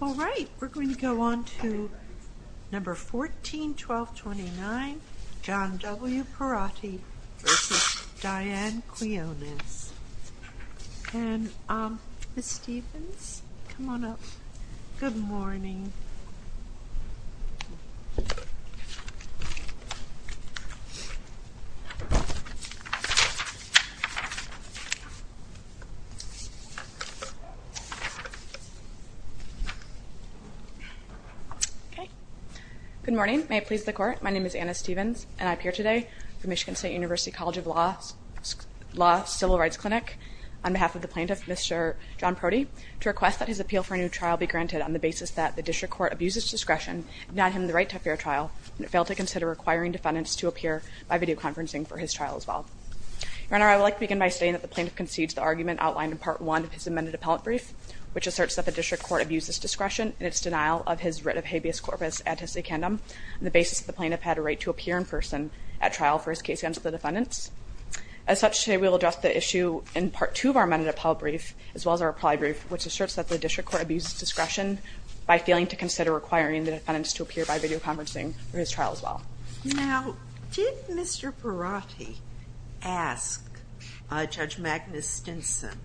All right, we're going to go on to No. 14-1229, John W. Perotti v. Diane Quinones. And Ms. Stevens, come on up. Good morning. Good morning. May it please the Court, my name is Anna Stevens, and I appear today for Michigan State University College of Law's Civil Rights Clinic on behalf of the plaintiff, Mr. John Perotti, to request that his appeal for a new trial be granted on the basis that the district court abuses discretion and denied him the right to a fair trial, and it failed to consider requiring defendants to appear by videoconferencing for his trial as well. Your Honor, I would like to begin by stating that the plaintiff concedes the argument outlined in Part 1 of his amended appellate brief, which asserts that the district court abuses discretion in its denial of his writ of habeas corpus ante secundum on the basis that the plaintiff had a right to appear in person at trial for his case against the defendants. As such, today we will address the issue in Part 2 of our amended appellate brief, as well as our applied brief, which asserts that the district court abuses discretion by failing to consider requiring the defendants to appear by videoconferencing for his trial as well. Now, did Mr. Perotti ask Judge Magnus Stinson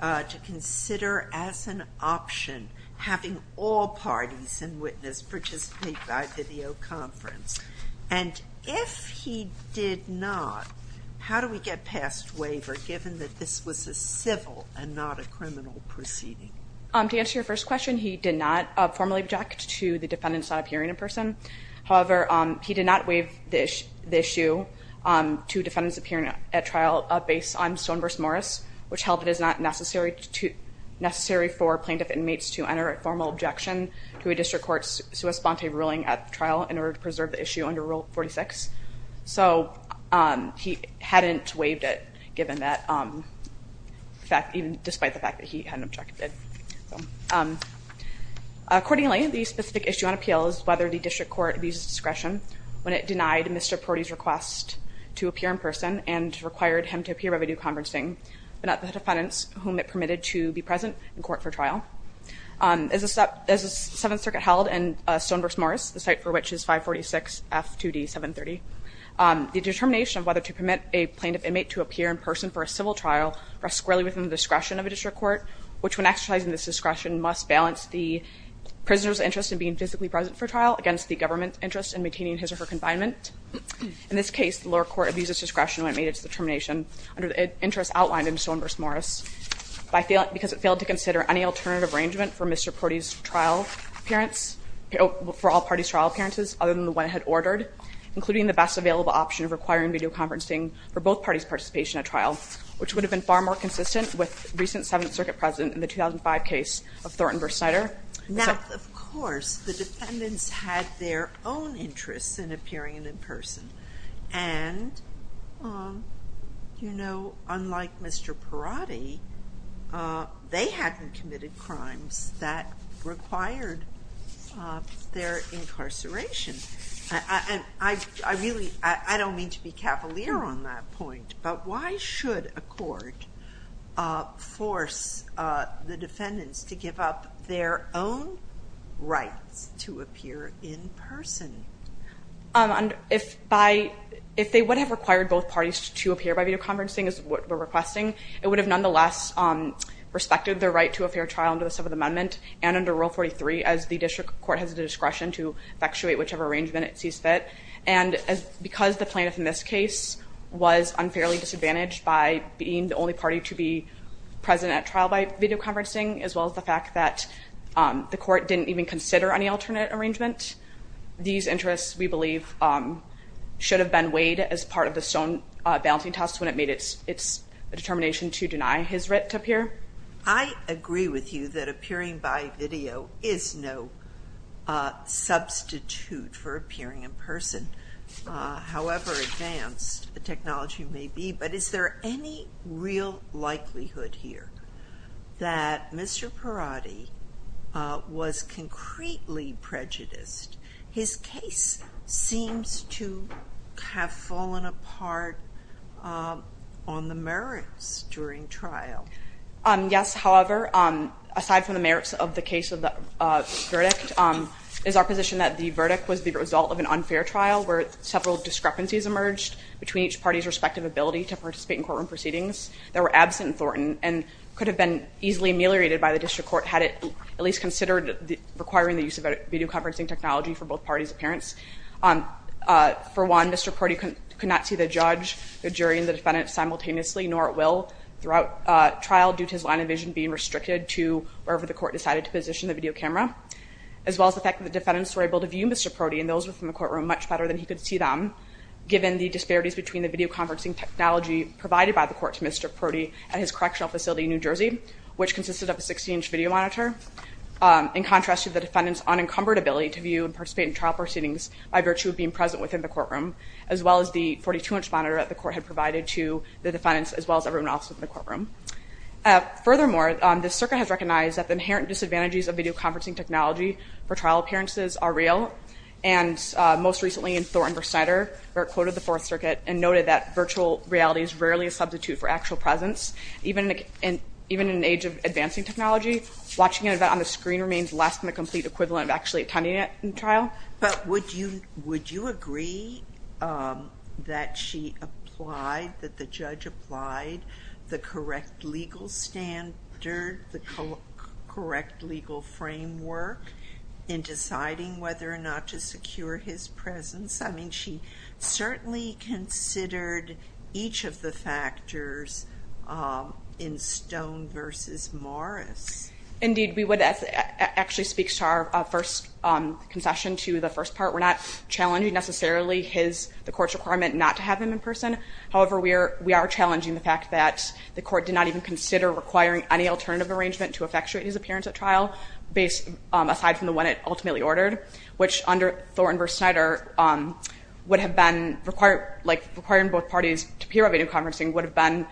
to consider as an option having all parties in witness participate by videoconference? And if he did not, how do we get passed this waiver, given that this was a civil and not a criminal proceeding? To answer your first question, he did not formally object to the defendants not appearing in person. However, he did not waive the issue to defendants appearing at trial based on Stone v. Morris, which held that it is not necessary for plaintiff inmates to enter a formal objection to a district court's sua sponte ruling at trial in order to preserve the issue under Rule 46. So he hadn't waived it, given that fact, even despite the fact that he hadn't objected. Accordingly, the specific issue on appeal is whether the district court abuses discretion when it denied Mr. Perotti's request to appear in person and required him to appear by videoconferencing, but not the defendants whom it permitted to be present in court for The determination of whether to permit a plaintiff inmate to appear in person for a civil trial rests squarely within the discretion of a district court, which, when exercising this discretion, must balance the prisoner's interest in being physically present for trial against the government's interest in maintaining his or her confinement. In this case, the lower court abuses discretion when it made its determination under the interests outlined in Stone v. Morris because it failed to consider any alternative arrangement for Mr. Perotti's trial appearance, for all parties' trial appearances, other than the one it had ordered, including the best available option of requiring videoconferencing for both parties' participation at trial, which would have been far more consistent with recent Seventh Circuit precedent in the 2005 case of Thornton v. Snyder. Now, of course, the defendants had their own interests in appearing in person. And, you know, unlike Mr. Perotti, they hadn't committed crimes that required their incarceration. And I really don't mean to be cavalier on that point. But why should a court force the defendants to give up their own rights to appear in person? If they would have required both parties to appear by videoconferencing, as we're requesting, it would have nonetheless respected their right to a fair trial under the Seventh Amendment and under Rule 43, as the district court has the discretion to effectuate whichever arrangement it sees fit. And because the plaintiff in this case was unfairly disadvantaged by being the only party to be present at trial by videoconferencing, as well as the fact that the court didn't even consider any alternate arrangement, these interests, we believe, should have been weighed as part of the Stone balancing test when it made its determination to deny his writ to appear. I agree with you that appearing by video is no substitute for appearing in person, however advanced the technology may be, but is there any real likelihood here that Mr. Perotti was concretely prejudiced? His case seems to have fallen apart on the merits during trial. Yes, however, aside from the merits of the case of the verdict, it is our position that the verdict was the result of an unfair trial where several discrepancies emerged between each party's respective ability to participate in courtroom proceedings that were absent in Thornton and could have been easily ameliorated by the district court had it at least considered requiring the use of videoconferencing technology for both parties' appearance. For one, Mr. Perotti could not see the judge, the jury, and the defendant simultaneously, nor at will throughout trial due to his line of vision being restricted to wherever the court decided to position the video camera, as well as the fact that the defendants were able to view Mr. Perotti and those within the courtroom much better than he could see them, given the disparities between the videoconferencing technology provided by the court to Mr. Perotti at his correctional facility in New Jersey, which consisted of a 16-inch video monitor, in contrast to the defendant's unencumbered ability to view and participate in trial proceedings by virtue of being present within the courtroom, as well as the 42-inch monitor that the court had provided to the defendants as well as everyone else within the courtroom. Furthermore, the circuit has recognized that the inherent disadvantages of videoconferencing technology for trial appearances are real, and most recently in Thornton v. Snyder, where it quoted the Fourth Circuit and noted that virtual reality is rarely a substitute for actual presence, even in an age of advancing technology, watching an event on the screen remains less than the complete equivalent of actually attending it in trial. But would you agree that she applied, that the judge applied, the correct legal standard, the correct legal framework, in deciding whether or not to secure his presence? I mean, she certainly considered each of the factors in Stone v. Morris. Indeed, we would actually speak to our first concession to the first part. We're not challenging necessarily the court's requirement not to have him in person. However, we are challenging the fact that the court did not even consider requiring any alternative arrangement to effectuate his appearance at trial, aside from the one it ultimately ordered, which under Thornton v. Snyder would have been required, like requiring both parties to appear at videoconferencing would have been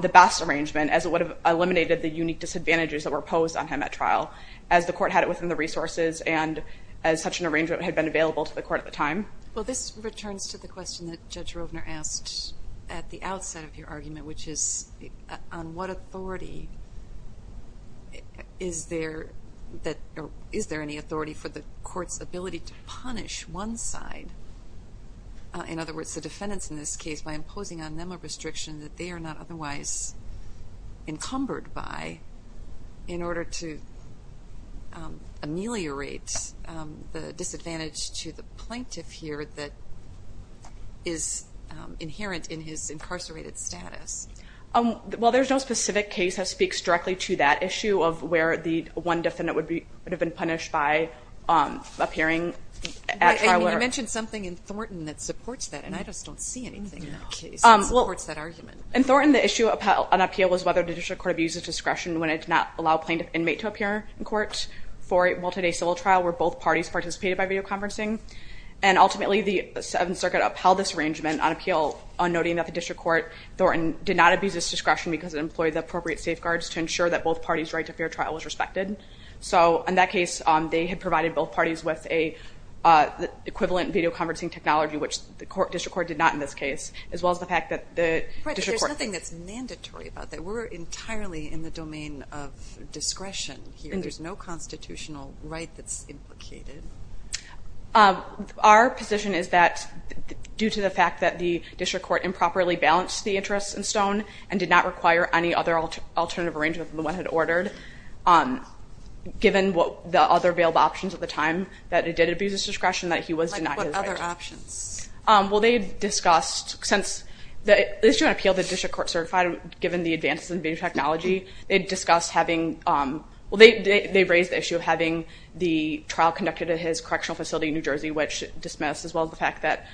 the best arrangement, as it would have eliminated the unique disadvantages that were posed on him at trial, as the court had it within the resources and as such an arrangement had been available to the court at the time. Well, this returns to the question that Judge Rovner asked at the outset of your argument, which is on what authority is there any authority for the court's ability to punish one side? In other words, the defendants in this case, by imposing on them a restriction that they are not otherwise encumbered by in order to ameliorate the disadvantage to the plaintiff here that is inherent in his incarcerated status. Well, there's no specific case that speaks directly to that issue of where the one defendant would have been punished by appearing at trial. You mentioned something in Thornton that supports that, and I just don't see anything in that case that supports that argument. In Thornton, the issue on appeal was whether the district court abused its discretion when it did not allow a plaintiff inmate to appear in court for a multi-day civil trial where both parties participated by videoconferencing. And ultimately, the Seventh Circuit upheld this arrangement on appeal, noting that the district court in Thornton did not abuse its discretion because it employed the appropriate safeguards to ensure that both parties' right to fair trial was respected. So in that case, they had provided both parties with an equivalent videoconferencing technology, which the district court did not in this case, as well as the fact that the district court— But there's nothing that's mandatory about that. We're entirely in the domain of discretion here. There's no constitutional right that's implicated. Our position is that due to the fact that the district court improperly balanced the interests in Stone and did not require any other alternative arrangement than the one it had ordered, given what the other available options at the time that it did abuse its discretion, that he was denied his right. Like what other options? Well, they discussed, since the issue on appeal the district court certified, given the advances in video technology, they discussed having— well, they raised the issue of having the trial conducted at his correctional facility in New Jersey, which dismissed, as well as the fact that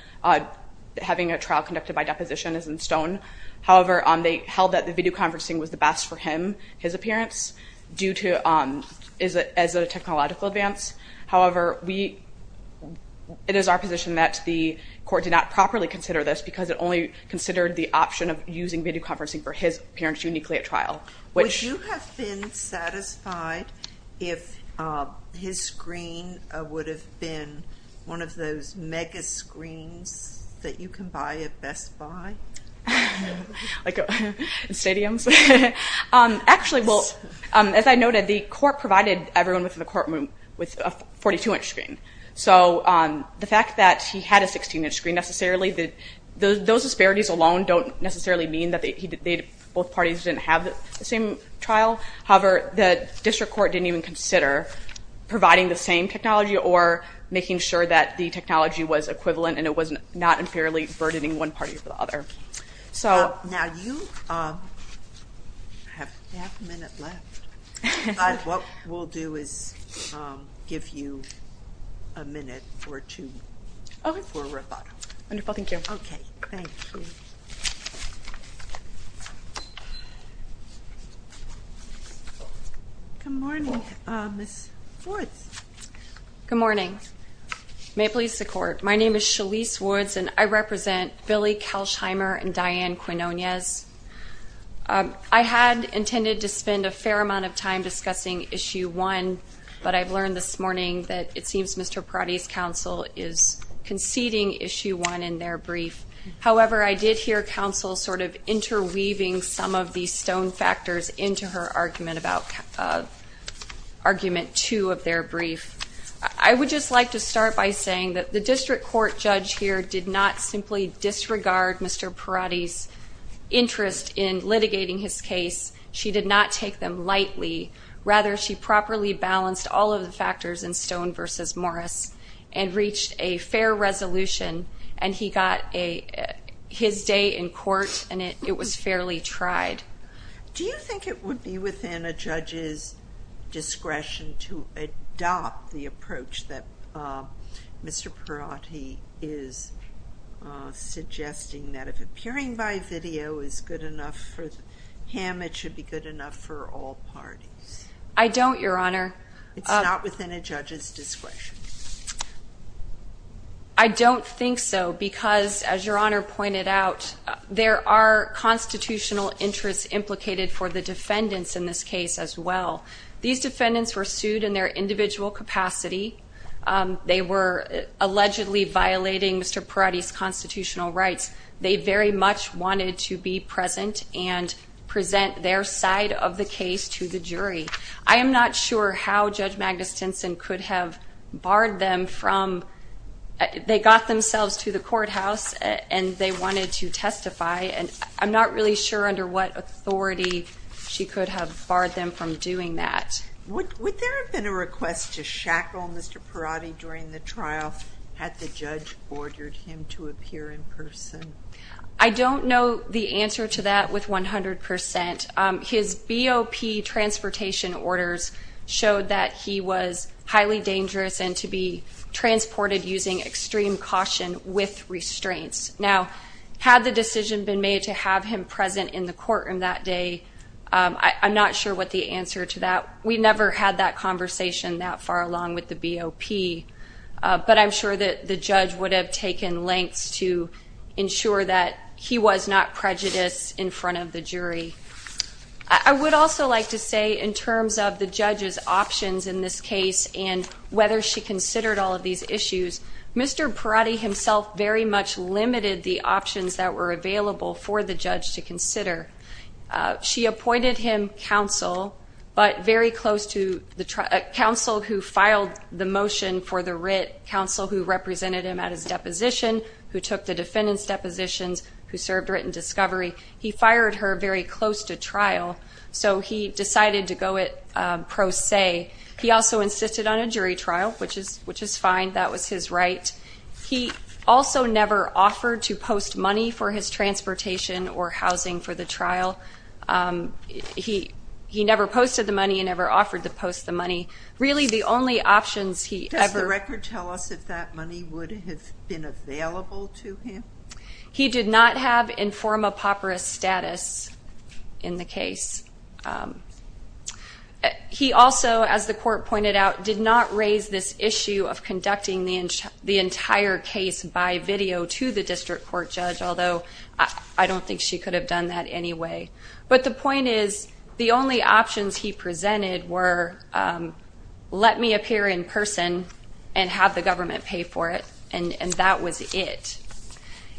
having a trial conducted by deposition is in Stone. However, they held that the videoconferencing was the best for him, his appearance, due to—as a technological advance. However, we—it is our position that the court did not properly consider this because it only considered the option of using videoconferencing for his appearance uniquely at trial, which— Would you be satisfied if his screen would have been one of those mega screens that you can buy at Best Buy? Like in stadiums? Actually, well, as I noted, the court provided everyone within the courtroom with a 42-inch screen. So the fact that he had a 16-inch screen necessarily— those disparities alone don't necessarily mean that both parties didn't have the same trial. However, the district court didn't even consider providing the same technology or making sure that the technology was equivalent and it was not unfairly burdening one party over the other. Now, you have half a minute left. But what we'll do is give you a minute or two for rebuttal. Wonderful. Thank you. Okay, thank you. Good morning, Ms. Woods. Good morning. May it please the Court, my name is Shalise Woods, and I represent Billy Kelsheimer and Diane Quinonez. I had intended to spend a fair amount of time discussing Issue 1, but I've learned this morning that it seems Mr. Perotti's counsel is conceding Issue 1 in their brief. However, I did hear counsel sort of interweaving some of the stone factors into her argument about Argument 2 of their brief. I would just like to start by saying that the district court judge here did not simply disregard Mr. Perotti's interest in litigating his case. She did not take them lightly. Rather, she properly balanced all of the factors in Stone v. Morris and reached a fair resolution, and he got his day in court, and it was fairly tried. Do you think it would be within a judge's discretion to adopt the approach that Mr. Perotti is suggesting, that if appearing by video is good enough for him, it should be good enough for all parties? I don't, Your Honor. It's not within a judge's discretion? I don't think so because, as Your Honor pointed out, there are constitutional interests implicated for the defendants in this case as well. These defendants were sued in their individual capacity. They were allegedly violating Mr. Perotti's constitutional rights. They very much wanted to be present and present their side of the case to the jury. I am not sure how Judge Magnus Stinson could have barred them from they got themselves to the courthouse, and they wanted to testify, and I'm not really sure under what authority she could have barred them from doing that. Would there have been a request to shackle Mr. Perotti during the trial had the judge ordered him to appear in person? I don't know the answer to that with 100%. His BOP transportation orders showed that he was highly dangerous and to be transported using extreme caution with restraints. Now, had the decision been made to have him present in the courtroom that day, I'm not sure what the answer to that. We never had that conversation that far along with the BOP, but I'm sure that the judge would have taken lengths to ensure that he was not prejudiced in front of the jury. I would also like to say in terms of the judge's options in this case and whether she considered all of these issues, Mr. Perotti himself very much limited the options that were available for the judge to consider. She appointed him counsel, but very close to the counsel who filed the motion for the writ, counsel who represented him at his deposition, who took the defendant's depositions, who served writ and discovery. He fired her very close to trial, so he decided to go it pro se. He also insisted on a jury trial, which is fine. That was his right. He also never offered to post money for his transportation or housing for the trial. He never posted the money and never offered to post the money. Really, the only options he ever- Does the record tell us if that money would have been available to him? He did not have inform-a-papyrus status in the case. He also, as the court pointed out, did not raise this issue of conducting the entire case by video to the district court judge, although I don't think she could have done that anyway. But the point is the only options he presented were let me appear in person and have the government pay for it, and that was it.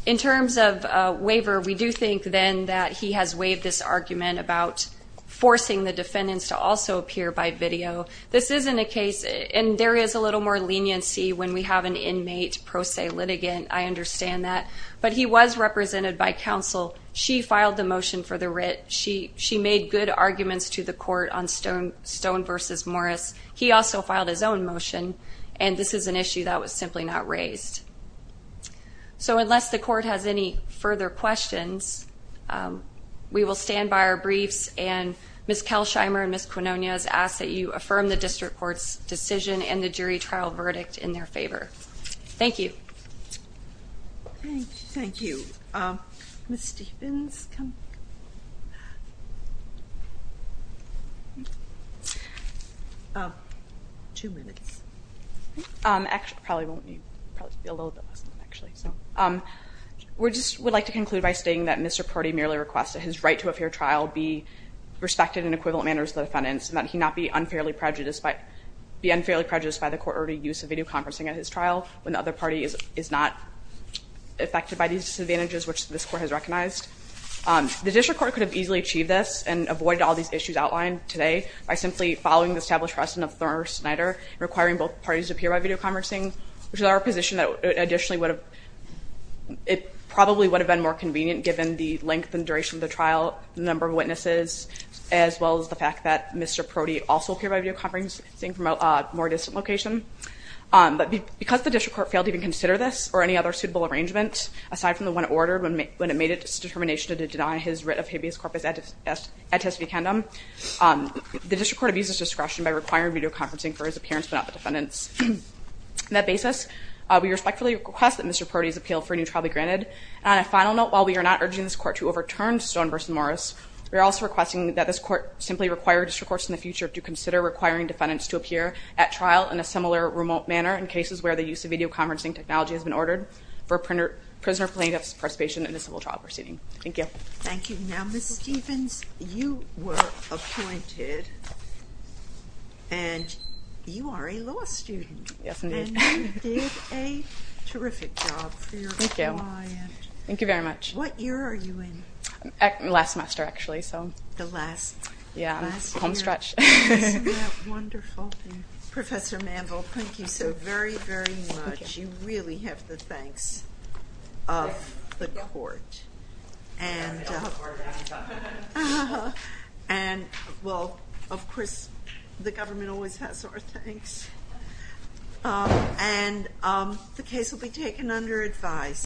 In terms of waiver, we do think then that he has waived this argument about forcing the defendants to also appear by video. This isn't a case- And there is a little more leniency when we have an inmate pro se litigant. I understand that. But he was represented by counsel. She filed the motion for the writ. She made good arguments to the court on Stone v. Morris. He also filed his own motion, and this is an issue that was simply not raised. So unless the court has any further questions, we will stand by our briefs, and Ms. Kelsheimer and Ms. Quinonez ask that you affirm the district court's decision and the jury trial verdict in their favor. Thank you. Thank you. Ms. Stephens, come. Two minutes. It probably won't be a little bit less than that, actually. We just would like to conclude by stating that Mr. Pardee merely requests that his right to a fair trial be respected in equivalent manners to the defendant's and that he not be unfairly prejudiced by the court-ordered use of video conferencing at his trial when the other party is not affected by these disadvantages, which this court has recognized. The district court could have easily achieved this and avoided all these issues outlined today by simply following the established precedent of Thurner-Snyder and requiring both parties to appear by video conferencing, which is our position that additionally it probably would have been more convenient, given the length and duration of the trial, the number of witnesses, as well as the fact that Mr. Pardee also appeared by video conferencing from a more distant location. But because the district court failed to even consider this or any other suitable arrangement, aside from the one ordered when it made its determination to deny his writ of habeas corpus a testificandum, the district court abused its discretion by requiring video conferencing for his appearance but not the defendant's. On that basis, we respectfully request that Mr. Pardee's appeal for a new trial be granted. And on a final note, while we are not urging this court to overturn Stone v. Morris, we are also requesting that this court simply require district courts in the future to consider requiring defendants to appear at trial in a similar remote manner in cases where the use of video conferencing technology has been ordered for prisoner plaintiffs' participation in a civil trial proceeding. Thank you. Thank you. Now, Ms. Stevens, you were appointed, and you are a law student. Yes, indeed. And you did a terrific job for your client. Thank you. Thank you very much. What year are you in? Last semester, actually, so. The last year. Yeah, home stretch. Isn't that wonderful? Professor Manville, thank you so very, very much. You really have the thanks of the court. And, well, of course, the government always has our thanks. And the case will be taken under advice.